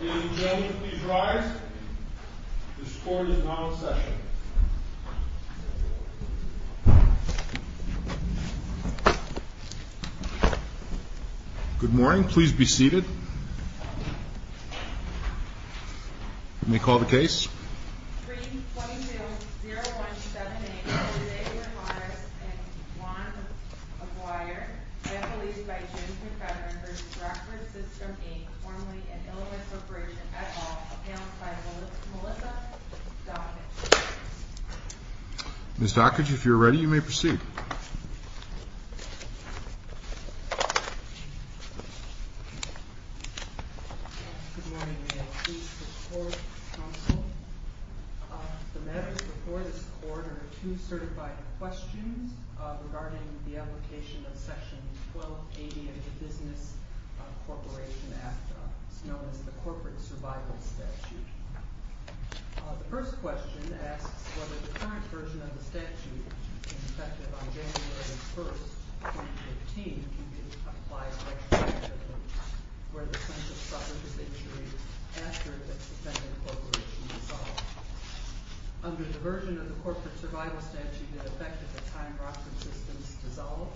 Ladies and gentlemen, please rise. This court is now in session. Good morning. Please be seated. May I call the case? 322-0178, Elizabeth Morris v. Juan Aguirre, then released by James McFedrin v. Rockford Systems, Inc., formerly of Illinois Corporation, et al., announced by Melissa Dockage. Ms. Dockage, if you're ready, you may proceed. Good morning. May I please report, counsel? The matters before this court are two certified questions regarding the application of Section 1280 of the Business Corporation Act. It's known as the Corporate Survival Statute. The first question asks whether the current version of the statute, effective on January 1, 2015, applies retroactively where the plaintiff suffered his injury after the suspended corporation dissolved. Under the version of the Corporate Survival Statute, it affected the time Rockford Systems dissolved.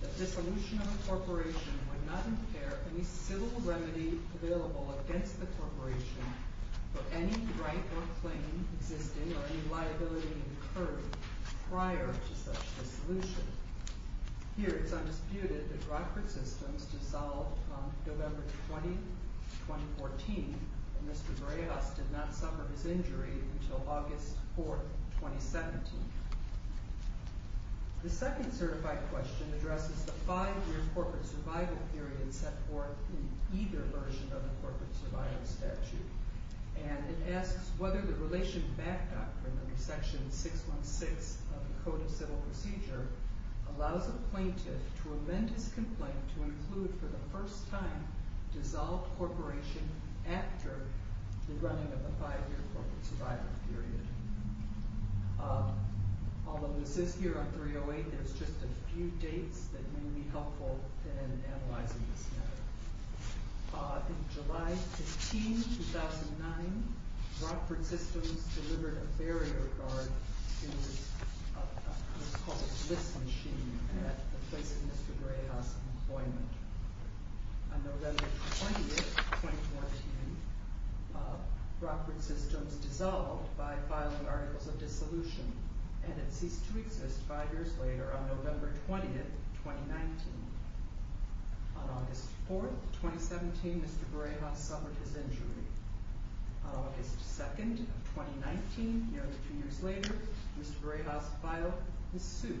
The dissolution of a corporation would not impair any civil remedy available against the corporation for any right or claim existing or any liability incurred prior to such dissolution. Here, it's undisputed that Rockford Systems dissolved on November 20, 2014, and Mr. Breas did not suffer his injury until August 4, 2017. The second certified question addresses the five-year corporate survival period set forth in either version of the Corporate Survival Statute, and it asks whether the Relation Back Doctrine under Section 616 of the Code of Civil Procedure allows a plaintiff to amend his complaint to include for the first time dissolved corporation after the running of the five-year corporate survival period. Although this is here on 308, there's just a few dates that may be helpful in analyzing this matter. In July 15, 2009, Rockford Systems delivered a barrier guard in what's called a bliss machine at the place of Mr. Breas' employment. On November 20, 2014, Rockford Systems dissolved by filing articles of dissolution, and it ceased to exist five years later on November 20, 2019. On August 4, 2017, Mr. Breas suffered his injury. On August 2, 2019, nearly two years later, Mr. Breas filed his suit,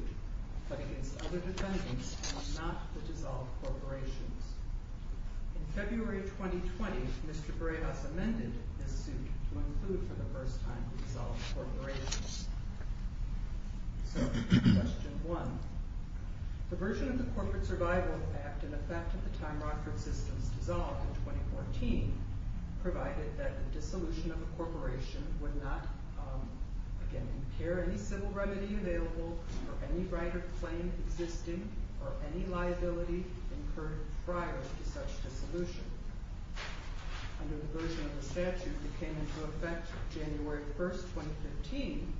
but against other defendants and not the dissolved corporations. In February 2020, Mr. Breas amended his suit to include for the first time dissolved corporations. Question 1. The version of the Corporate Survival Act in effect at the time Rockford Systems dissolved in 2014 provided that the dissolution of a corporation would not impair any civil remedy available or any right of claim existing or any liability incurred prior to such dissolution. Under the version of the statute that came into effect January 1, 2015,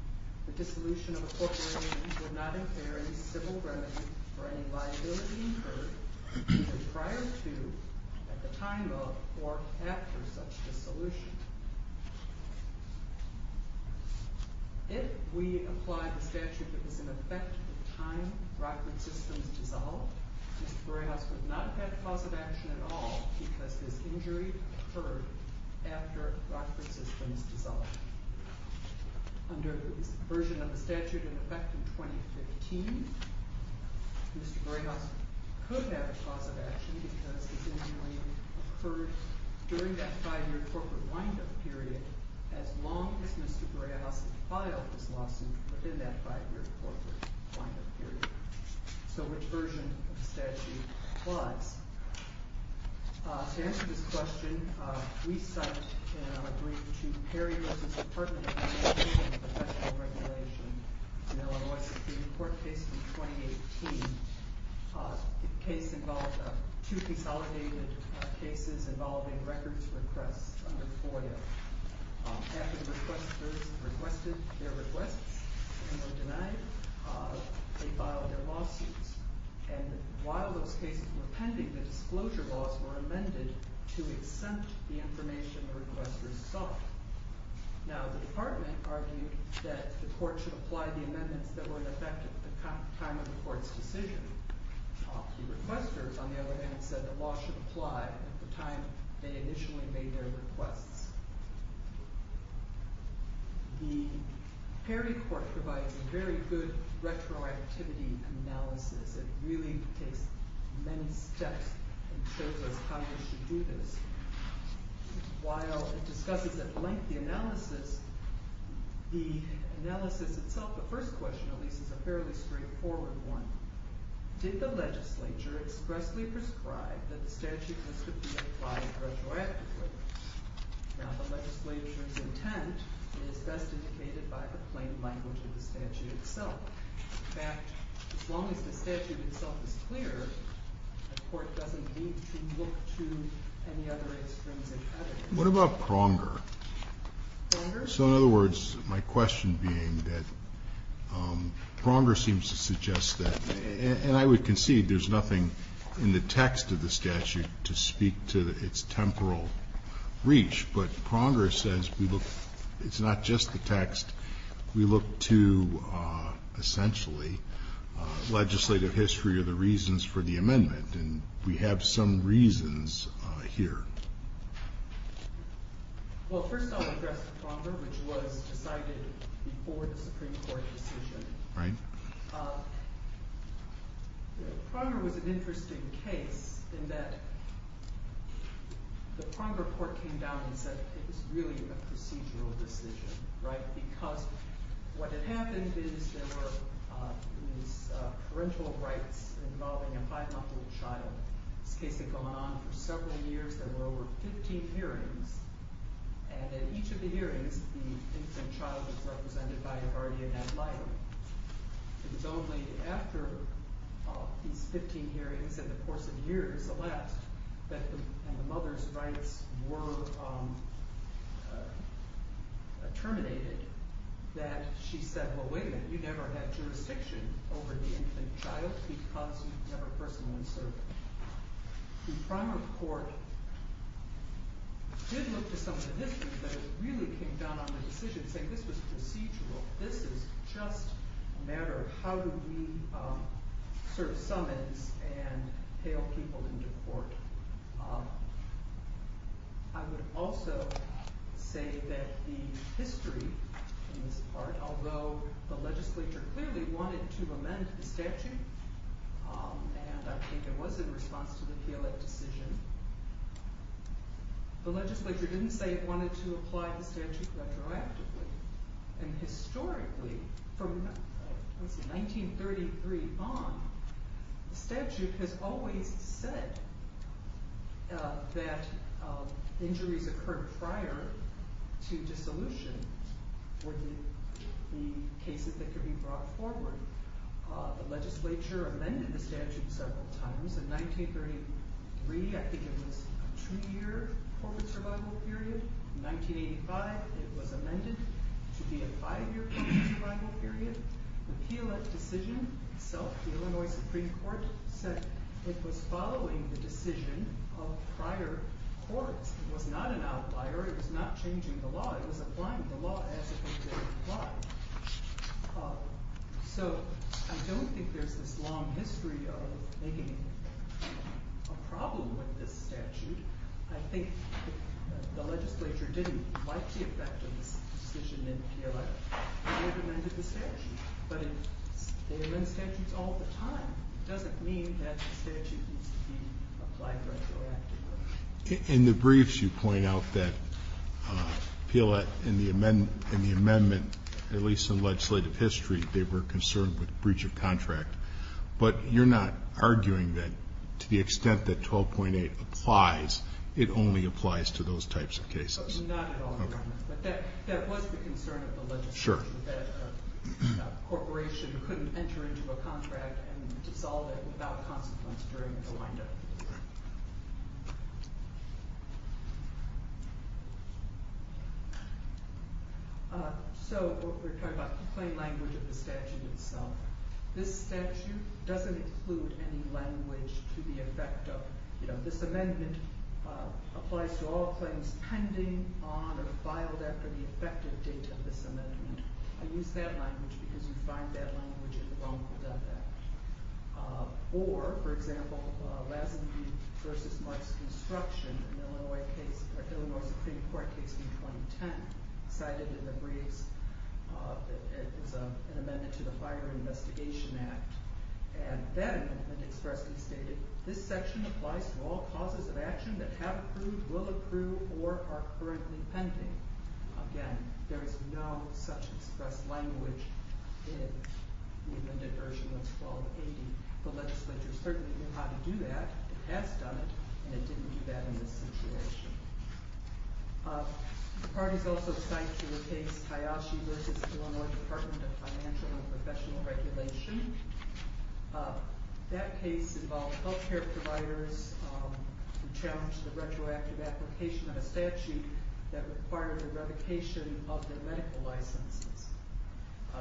the dissolution of a corporation would not impair any civil remedy for any liability incurred prior to, at the time of, or after such dissolution. If we apply the statute that was in effect at the time Rockford Systems dissolved, Mr. Breas would not have had cause of action at all because his injury occurred after Rockford Systems dissolved. Under the version of the statute in effect in 2015, Mr. Breas could have cause of action because his injury occurred during that five-year corporate wind-up period as long as Mr. Breas filed his lawsuit within that five-year corporate wind-up period. So which version of the statute applies? To answer this question, we cite in our brief to Perry v. Department of Transportation Professional Regulation, the court case from 2018. The case involved two consolidated cases involving records requests under FOIA. After the requesters requested their requests and were denied, they filed their lawsuits. And while those cases were pending, the disclosure laws were amended to exempt the information the requesters sought. Now the department argued that the court should apply the amendments that were in effect at the time of the court's decision. The requesters, on the other hand, said the law should apply at the time they initially made their requests. The Perry court provides a very good retroactivity analysis. It really takes many steps and shows us how we should do this. While it discusses a lengthy analysis, the analysis itself, the first question at least, is a fairly straightforward one. Did the legislature expressly prescribe that the statute must be applied retroactively? Now the legislature's intent is best indicated by the plain language of the statute itself. In fact, as long as the statute itself is clear, the court doesn't need to look to any other extremes. What about Pronger? So in other words, my question being that Pronger seems to suggest that, and I would concede there's nothing in the text of the statute to speak to its temporal reach, but Pronger says it's not just the text. We look to, essentially, legislative history or the reasons for the amendment. And we have some reasons here. Well, first I'll address the Pronger, which was decided before the Supreme Court decision. Pronger was an interesting case in that the Pronger court came down and said it was really a procedural decision. Because what had happened is there were these parental rights involving a five-month-old child. This case had gone on for several years. There were over 15 hearings. And at each of the hearings, the infant child was represented by a guardian ad litem. It was only after these 15 hearings and the course of years, the last, and the mother's rights were terminated, that she said, well, wait a minute, you never had jurisdiction over the infant child because you never personally served it. The Pronger court did look to some of the history, but it really came down on the decision to say this was procedural. This is just a matter of how do we serve summons and hail people into court. I would also say that the history in this part, although the legislature clearly wanted to amend the statute, and I think it was in response to the Hewlett decision, the legislature didn't say it wanted to apply the statute retroactively. And historically, from 1933 on, the statute has always said that injuries occurred prior to dissolution, or the cases that could be brought forward. The legislature amended the statute several times. In 1933, I think it was a two-year corporate survival period. In 1985, it was amended to be a five-year corporate survival period. The Hewlett decision itself, the Illinois Supreme Court said it was following the decision of prior courts. It was not an outlier. It was not changing the law. It was applying the law as it had been applied. So, I don't think there's this long history of making a problem with this statute. I think the legislature didn't like the effect of this decision in Hewlett, and it amended the statute. But if they amend statutes all the time, it doesn't mean that the statute needs to be applied retroactively. In the briefs, you point out that Hewlett, in the amendment, at least in legislative history, they were concerned with breach of contract. But you're not arguing that to the extent that 12.8 applies, it only applies to those types of cases? Not at all, Your Honor. But that was the concern of the legislature, that a corporation couldn't enter into a contract and dissolve it without consequence during the windup. So, we're talking about the plain language of the statute itself. This statute doesn't include any language to the effect of, you know, this amendment applies to all claims pending on or filed after the effective date of this amendment. I use that language because you find that language in the wrongful death act. Or, for example, Lazenby v. Marks Construction, an Illinois Supreme Court case in 2010, cited in the briefs as an amendment to the Fire and Investigation Act. And that amendment expressly stated, this section applies to all causes of action that have approved, will approve, or are currently pending. Again, there is no such expressed language in the amendment version that's 12.80. The legislature certainly knew how to do that, it has done it, and it didn't do that in this situation. The parties also cite to the case Hayashi v. Illinois Department of Financial and Professional Regulation. That case involved health care providers who challenged the retroactive application of a statute that required the revocation of their medical licenses.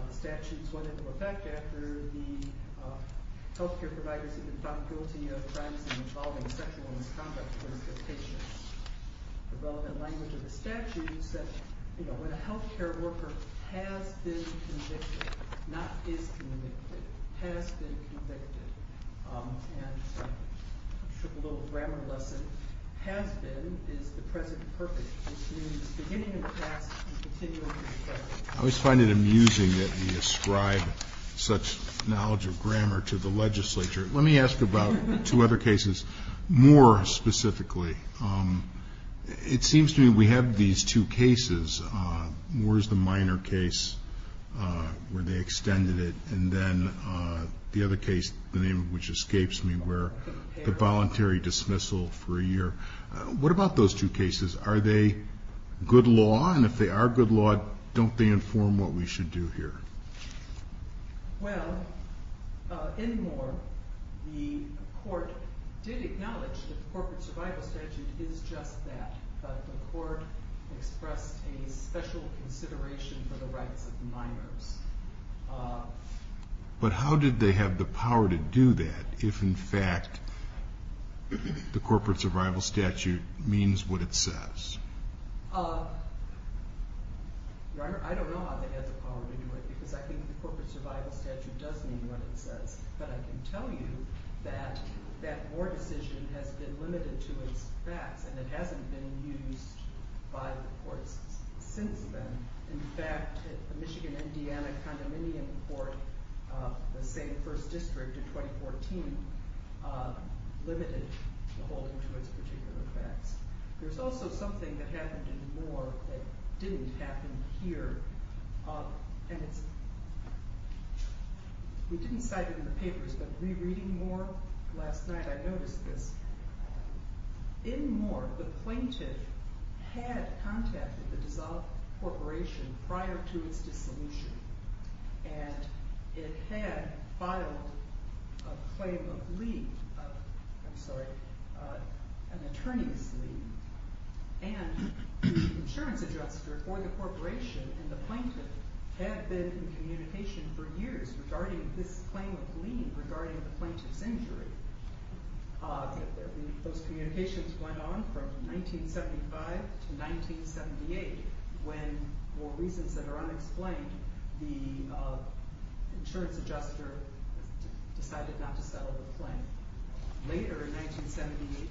The statutes went into effect after the health care providers had been found guilty of crimes involving sexual misconduct towards their patients. The relevant language of the statute said, you know, when a health care worker has been convicted, not is convicted, has been convicted, and I'm sure a little grammar lesson has been, is the present perfect. This means beginning in the past and continuing in the future. I always find it amusing that you ascribe such knowledge of grammar to the legislature. Let me ask about two other cases more specifically. It seems to me we have these two cases. Moore's the minor case where they extended it, and then the other case, the name of which escapes me, where the voluntary dismissal for a year. What about those two cases? Are they good law, and if they are good law, don't they inform what we should do here? Well, in Moore, the court did acknowledge that the corporate survival statute is just that. The court expressed a special consideration for the rights of the minors. But how did they have the power to do that, if in fact the corporate survival statute means what it says? Your Honor, I don't know how they had the power to do it, because I think the corporate survival statute does mean what it says, but I can tell you that that Moore decision has been limited to its facts, and it hasn't been used by the courts since then. In fact, the Michigan-Indiana Condominium Court, the same first district in 2014, limited the holding to its particular facts. There's also something that happened in Moore that didn't happen here, and we didn't cite it in the papers, but rereading Moore last night, I noticed this. In Moore, the plaintiff had contacted the dissolved corporation prior to its dissolution, and it had filed a claim of leave, I'm sorry, an attorney's leave, and the insurance adjuster for the corporation and the plaintiff had been in communication for years regarding this claim of leave, regarding the plaintiff's injury. Those communications went on from 1975 to 1978, when for reasons that are unexplained, the insurance adjuster decided not to settle the claim. Later, in 1978,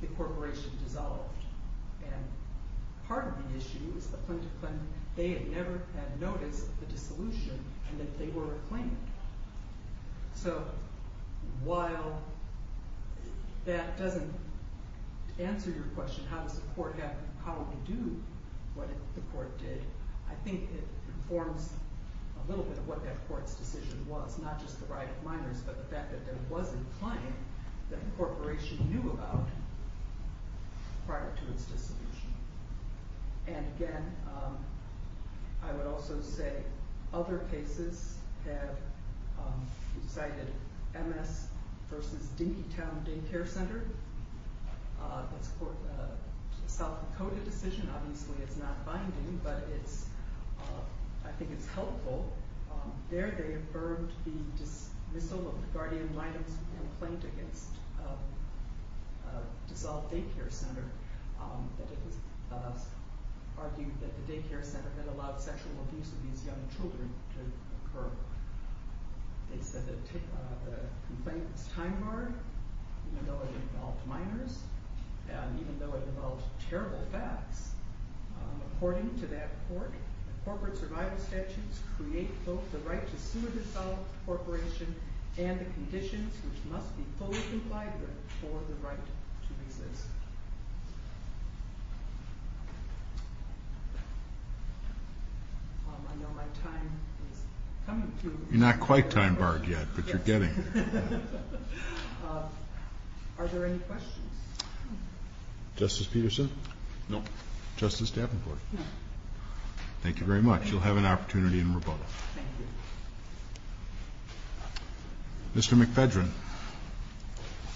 the corporation dissolved, and part of the issue is the plaintiff claimed they had never had noticed the dissolution, and that they were reclaimed. So, while that doesn't answer your question, how does the court have the power to do what the court did, I think it informs a little bit of what that court's decision was, not just the right of minors, but the fact that there was a claim that the corporation knew about prior to its dissolution. And again, I would also say, other cases have cited MS versus Dinkytown Day Care Center. That's a South Dakota decision, obviously, it's not binding, but I think it's helpful. There they affirmed the dismissal of the guardian minors and the plaintiff's dissolved day care center, but it was argued that the day care center had allowed sexual abuse of these young children to occur. They said that the complaint was time-barred, even though it involved minors, and even though it involved terrible facts. According to that court, corporate survival statutes create both the right to sue a dissolved corporation, and the conditions which must be fully complied with for the right to resist. Thank you. I know my time is coming to an end. You're not quite time-barred yet, but you're getting there. Are there any questions? Justice Peterson? No. Justice Davenport? No. Thank you very much. You'll have an opportunity in rebuttal. Thank you. Mr. McPhedren?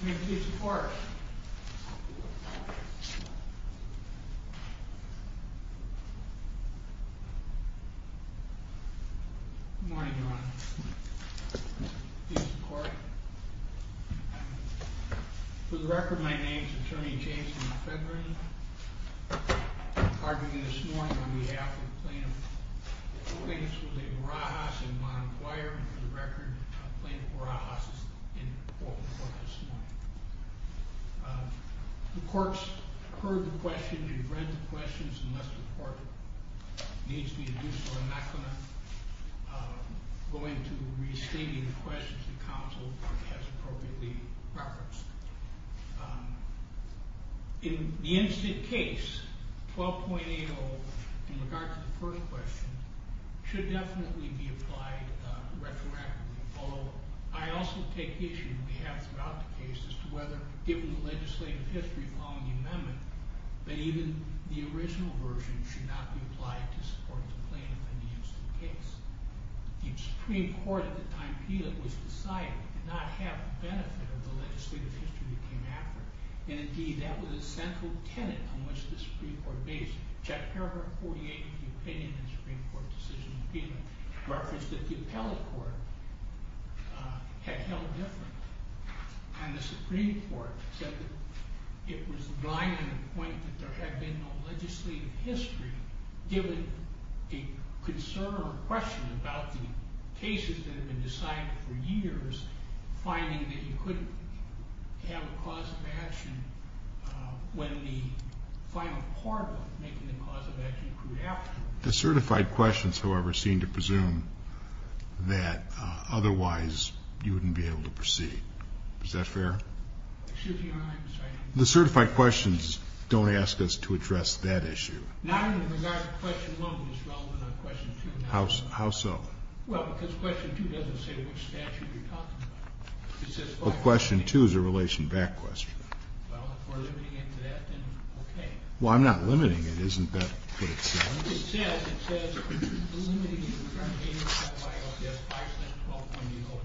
I'm here to give support. Thank you. Good morning, Your Honor. Thank you for your support. For the record, my name is Attorney James McPhedren. I'm arguing this morning on behalf of the plaintiff. The plaintiff's was a Barajas and Bonham choir, and for the record, the plaintiff Barajas is in court this morning. The court's heard the questions and read the questions, unless the court needs me to do so, I'm not going to go into restating the questions that counsel has appropriately referenced. In the incident case, 12.80, in regard to the first question, should definitely be applied retroactively, although I also take issue, and we have throughout the case, as to whether, given the legislative history following the amendment, that even the original version should not be applied to support the plaintiff in the incident case. The Supreme Court at the time PILOT was decided did not have the benefit of the legislative history that came after, and indeed, that was a central tenet on which the Supreme Court based. Check paragraph 48 of the opinion in the Supreme Court decision in PILOT referenced that the appellate court had held different, and the Supreme Court said that it was blind on the point that there had been no legislative history given a concern or question about the cases that had been decided for years, finding that you couldn't have a cause of action when the final part of making the cause of action grew after. The certified questions, however, seem to presume that otherwise you wouldn't be able to proceed. Is that fair? The certified questions don't ask us to address that issue. How so? Well, because question two doesn't say which statute you're talking about. Well, question two is a relation back question. Well, if we're limiting it to that, then okay. Well, I'm not limiting it. Isn't that what it says? It says, it says, limiting it. It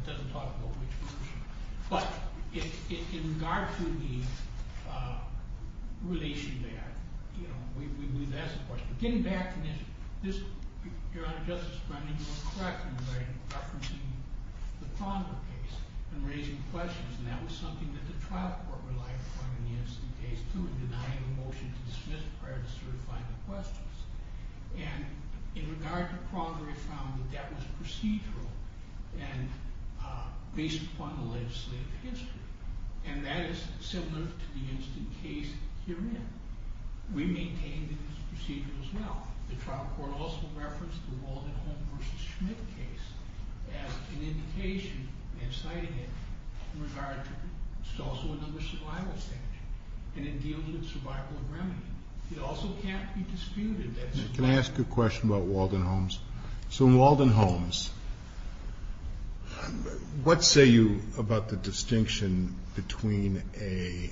doesn't talk about which version. But, in regard to the relation back, you know, we've asked the question. Getting back to this, Your Honor, Justice Brennan, you were correct in referencing the Pronger case and raising questions, and that was something that the trial court relied upon in the Innocence case, too, in denying the motion to dismiss and in regard to Pronger, we found that that was procedural and based upon the legislative history, and that is similar to the Innocence case herein. We maintain that it's procedural as well. The trial court also referenced the Walden Home v. Schmidt case as an indication, and I'm citing it, in regard to, it's also another survival statute, and it deals with survival of remedy. It also can't be disputed that Walden Homes, let's say you, about the distinction between a,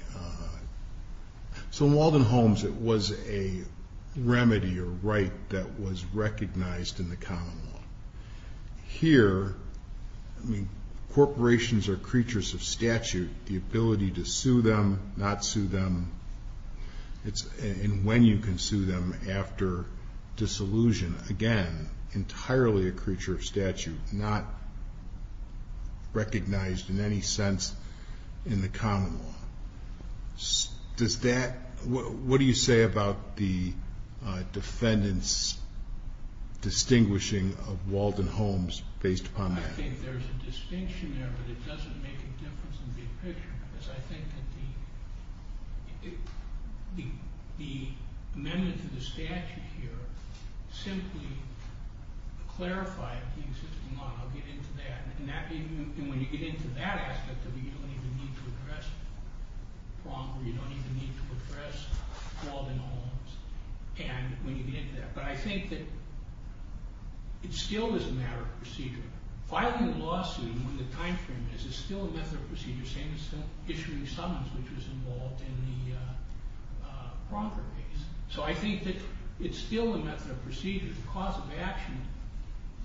so Walden Homes, it was a remedy or right that was recognized in the common law. Here, I mean, corporations are creatures of statute. The ability to sue them, not sue them, and when you can sue them after disillusion, again, entirely a creature of statute, not recognized in any sense in the common law. Does that, what do you say about the defendant's distinguishing of Walden Homes based upon that? I think there's a distinction there, but it doesn't make a difference in the big picture because I think that the, the amendment to the statute here simply clarified the existing law, and I'll get into that, and when you get into that aspect of it, you don't even need to address Pronker, you don't even need to address Walden Homes, and when you get into that, but I think that it still is a matter of procedure. Filing a lawsuit in the time frame is still a method of procedure, same as issuing summons, which was involved in the Pronker case. It's still a method of procedure. The cause of action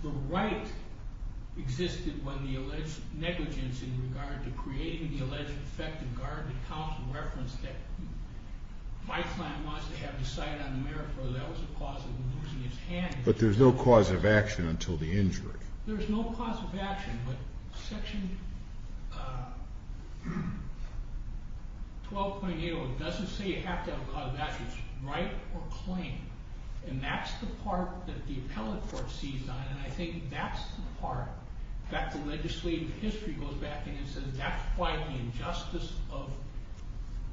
for right existed when the alleged negligence in regard to creating the alleged effective guard that counsel referenced that Weissland wants to have decided on the merit for that was the cause of losing his hand. But there's no cause of action until the injury. There's no cause of action, but section 12.80 doesn't say you have to have a cause of action for right and that's the part that the appellate court sees on and I think that's the part that the legislative history goes back in and says that's why the injustice of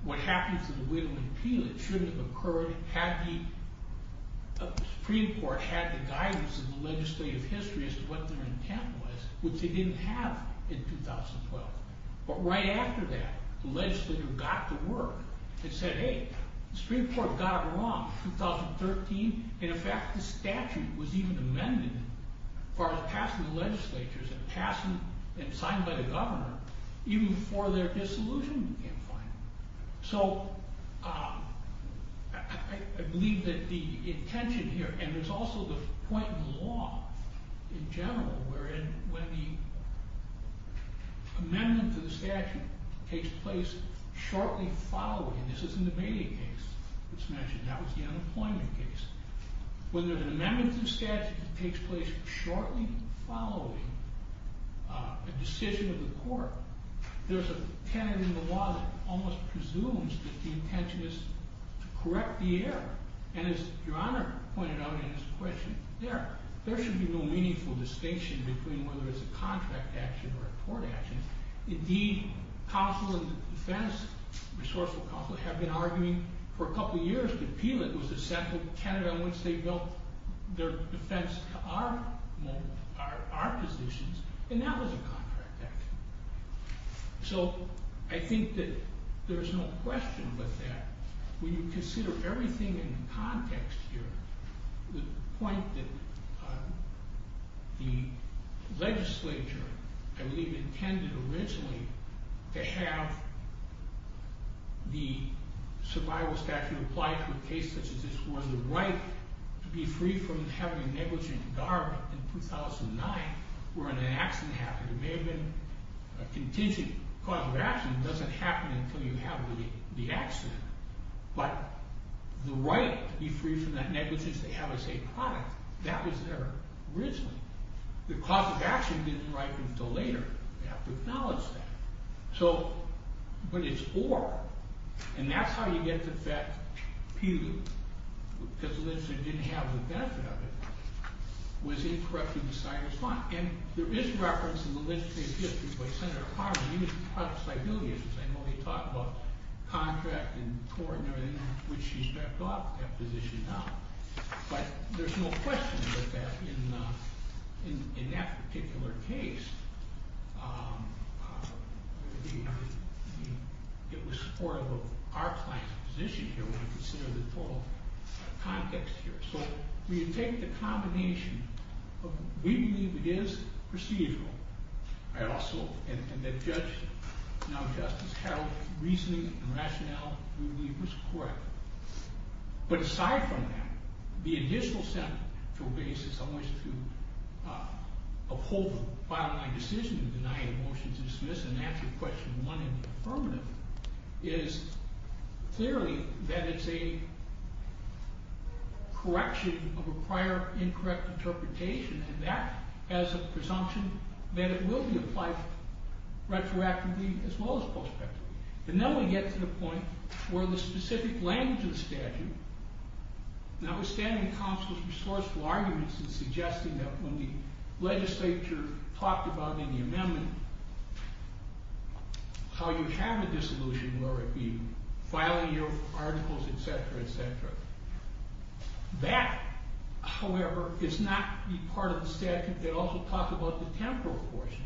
what happened to the Whitlam Impeachment shouldn't have occurred had the Supreme Court had the guidance of the legislative history as to what their intent was, which they didn't have in 2012. But right after that, in fact the statute was even amended for the passing of legislatures and signed by the governor even before their dissolution became final. So I believe that the intention here, and there's also the point in law in general wherein when the amendment to the statute takes place shortly following, this is in the Bailey case that's mentioned, when there's an amendment to the statute that takes place shortly following a decision of the court, there's a tenet in the law that almost presumes that the intention is to correct the error and as Your Honor pointed out in his question, there should be no meaningful distinction between whether it's a contract action or a court action. Indeed, counsel and defense are positions and that was a contract action. So I think that there's no question but that when you consider everything in context here, the point that the legislature I believe intended originally to have the survival statute applied for a case such as this where the right to be free from having a negligent garment in 2009 wherein an accident happened, it may have been a contingent cause of action doesn't happen until you have the accident but the right to be free from that negligence they have as a product, that was there originally. The cause of action didn't arrive until later. We have to acknowledge that. But it's or and that's how you get the fact that the reason that the legislature appealed because the legislature didn't have the benefit of it was incorrect in deciding to respond. And there is reference in the legislature's history by Senator Carter. He was part of this idea when he talked about contract and court and everything which he's drafted off that position now. But there's no question that in that particular case it was supportive of our client's position here when I consider the total context here. So we take the combination of we believe it is procedural and also and that Judge now Justice Harold's reasoning and rationale we believe was correct. But aside from that the additional central basis I wish to uphold by my decision to deny a motion to dismiss and answer question 1 in the affirmative is clearly that it's a correction of a prior incorrect interpretation and that has a presumption that it will be applied retroactively as well as prospectively. But now we get to the point where the specific language of the statute notwithstanding counsel's resourceful arguments in suggesting that when the legislature talked about in the amendment how you have a disillusion where it would be filing your articles etcetera etcetera that however is not the part of the statute that also talks about the temporal portion.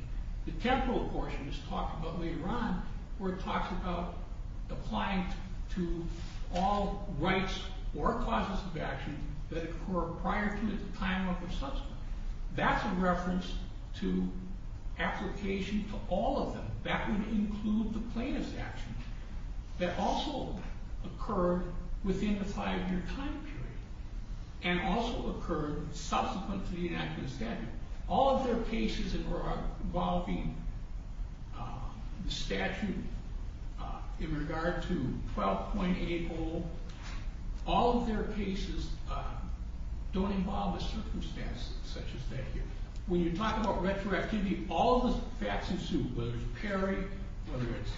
The temporal portion is talked about later on where it talks about applying to all rights or causes of action that occur prior to the time of the subsequent. That's a reference to application to all of them. That would include the plaintiff's actions that also occur within the five year time period and also occur subsequently in the statute. All of their cases involving the statute in regard to 12.80 all of their cases don't involve the circumstances such as that here. When you talk about retroactivity all the facts ensue whether it's Perry whether it's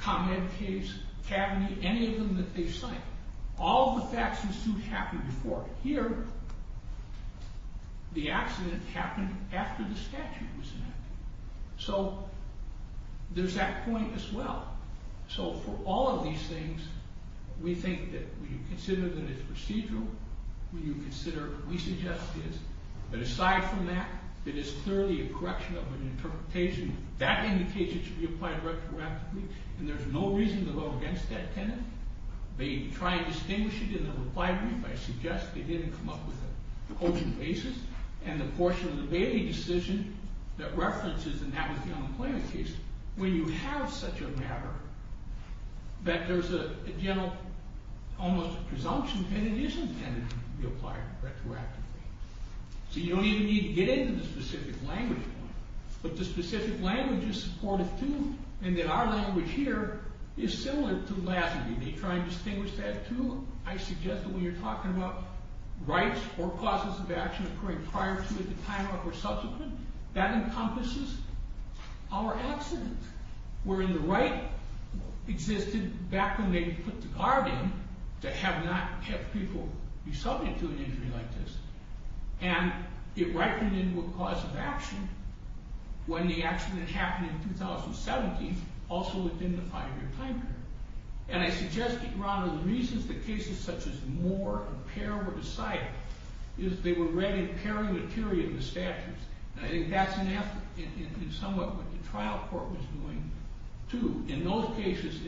ComEd case Cavaney any of them that they cite all the facts ensue happen before. Here the accident happened after the statute was enacted. So there's that point as well. So for all of these things we think that when you consider that it's procedural when you consider we suggest that aside from that it is clearly a correction of an interpretation that indication should be applied retroactively and there's no reason to go against that tenet. They try to distinguish it in the reply brief I suggest they didn't come up with an open basis and the portion of the Bailey decision that references and that was the unemployment case. When you have such a matter that there's a general almost presumption that it is intended to be applied retroactively. So you don't even need to get into the specific language but the specific language is supported too and our language here is similar to Lassie. They try to distinguish that too. I suggest that when you're talking about rights or causes of action occurring prior to or subsequent that encompasses our accident wherein the right existed back when they put the guard in to not have people be subject to an injury like this and it ripened into a cause of action when the accident happened in 2017 also within the five year time period. I suggest that you take a look the statute that was cited. They were read in paring the theory of the statute. That's what the trial court was doing too. In those cases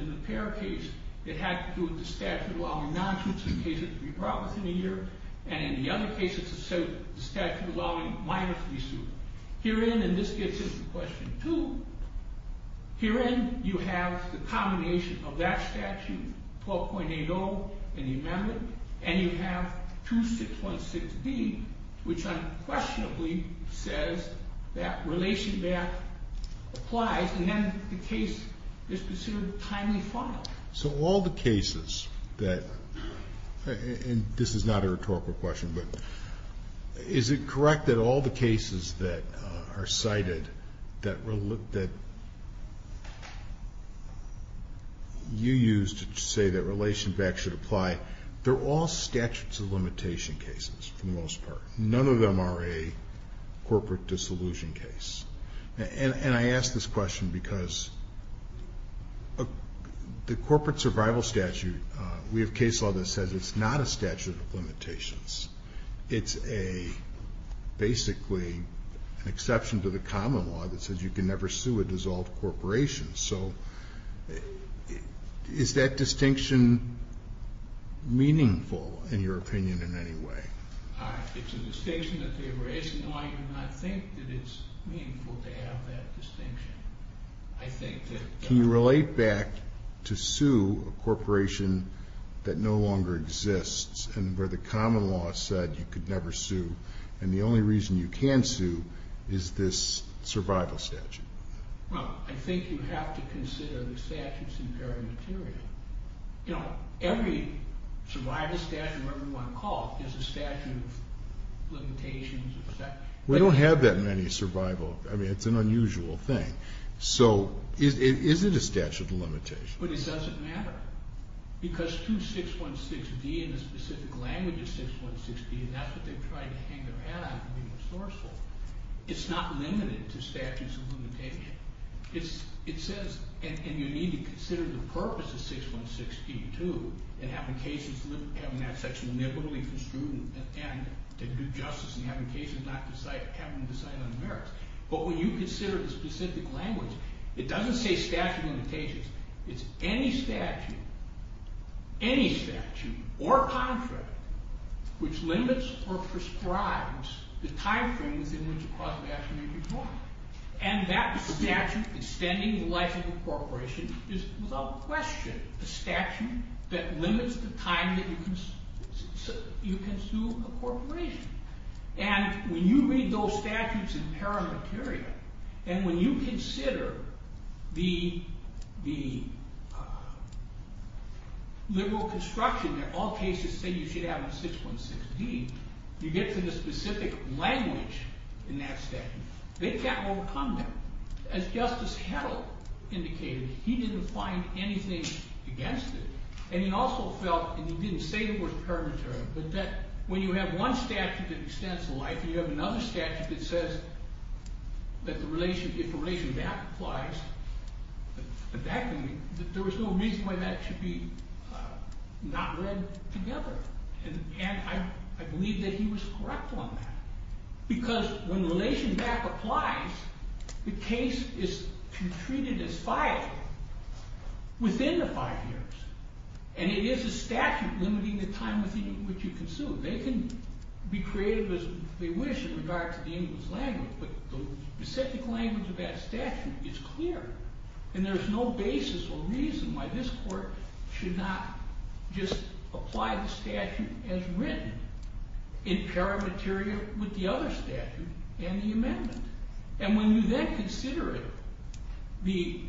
it had to do with the statute allowing non-suits and cases and in the other cases it was cases it was not allowing non-suits and cases and this gets into question two. Here you have the combination of that statute and you have 2616 which says that relation back applies and then the case is considered timely filed. So all the cases that and this is not a rhetorical question but is it correct that all the cases that are cited that you used to say that relation back should apply they're all statutes of limitation cases for the most part. None of them are a corporate dissolution case. And I ask this question because the corporate survival statute we have a case law that says it's not a statute of limitations it's a common law that says you can never sue a dissolved corporation. So is that distinction meaningful in your opinion in any way? It's a distinction that they were raising and I think that it's meaningful to have that distinction. Can you relate back to the case law where the common law said you could never sue and the only reason you can sue is this survival statute? I think you have to consider the statutes in very material. Every survival statute is a statute of limitations. We don't have that many survival I mean it's an unusual thing. So is it a statute of limitations? But it doesn't matter because through 616D and the specific language of 616D and that's what they tried to hang their hat on to and it's not limited to statutes of limitations. And you need to consider the purpose of 616D too. But when you consider the specific language it doesn't say statute of limitations it's any statute any statute or contract which limits or prescribes the time frame within which a clause of action may be drawn. And that statute extending the life of a corporation is without question a statute that limits the time that you consume a corporation. And when you read those statutes in paramateria and when you consider the liberal construction that all cases say you should have in 616D you get to the specific language in that statute. They can't say it was paramateria but that when you have one statute that extends the life and you have another statute that says if the relation back applies there was no reason why that should be not read together. And I believe that he was correct on that. Because when you have a statute limiting the time that you consume they can be creative as they wish in regards to the English language but the specific language of that statute is clear and there's no basis or reason why this court should not just apply the statute as written in paramateria with the other statute and the amendment. And when you then consider it the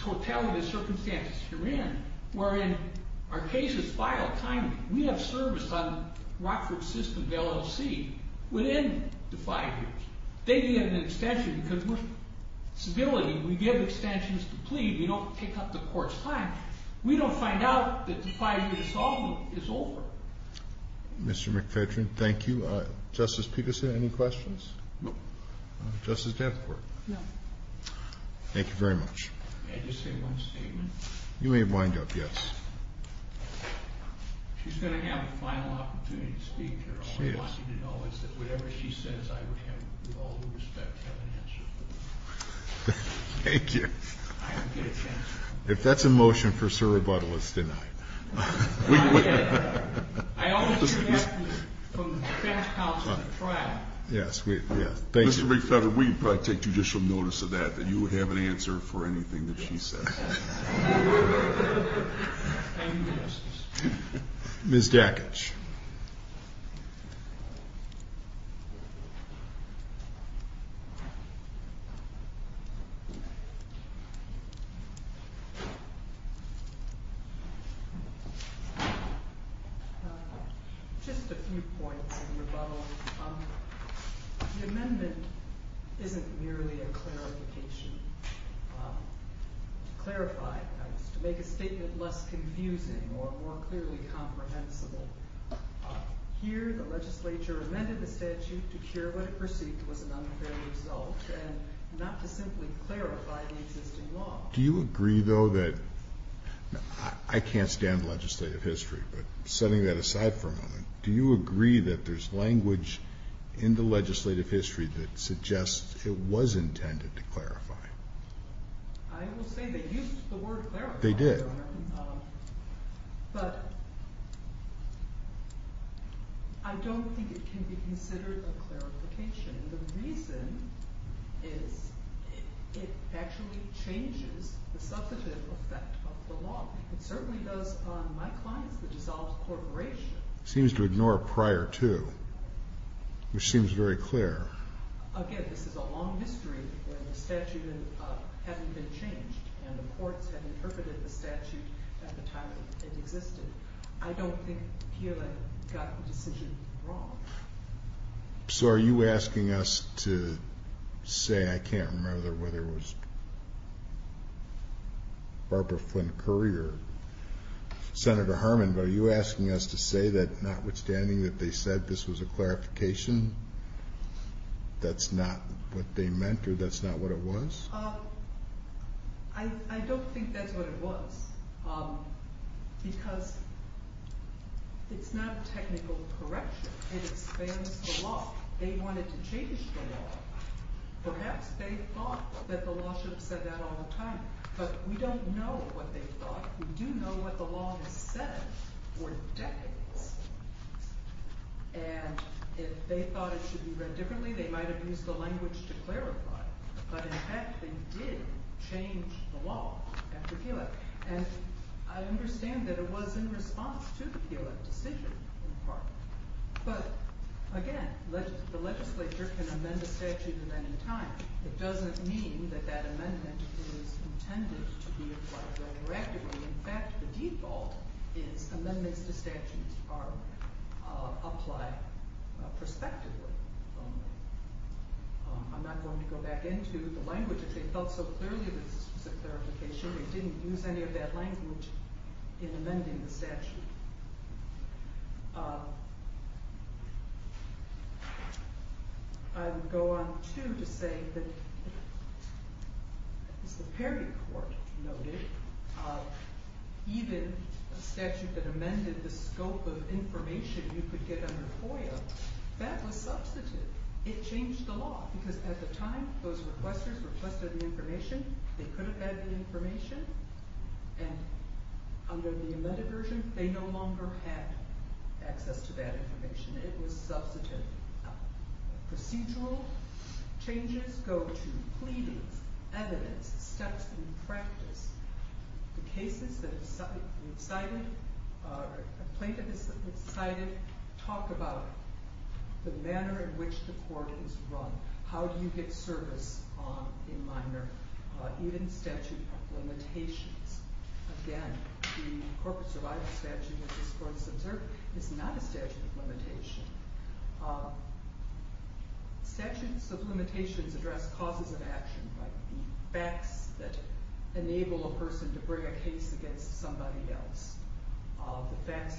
totality of circumstances you're in wherein our cases file timely we have service on Rockford system LLC within the five years. They need an extension because we're civility. We give extensions to plead. We don't take up the court's time. We don't find out that the five years is over. Mr. McPhedren thank you. Justice Peterson any questions? No. Justice Davenport? No. Thank you very much. Can I just say one statement? You may wind up, yes. She's going to have a final opportunity to speak here. All I want you to know is that whatever she says I would have all the respect to have an answer for her. Thank you. If that's a motion for sir rebuttal it's denied. I also have from the defense counsel trial. Mr. McPhedren we can probably take judicial notice of that that you would have an answer for anything that she says. Thank you Justice. Ms. Davenport. Just a few points in rebuttal. The amendment isn't merely a clarification. make a statement less confusing or more clearly comprehensible. Here the law is clear and it is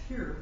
clear and it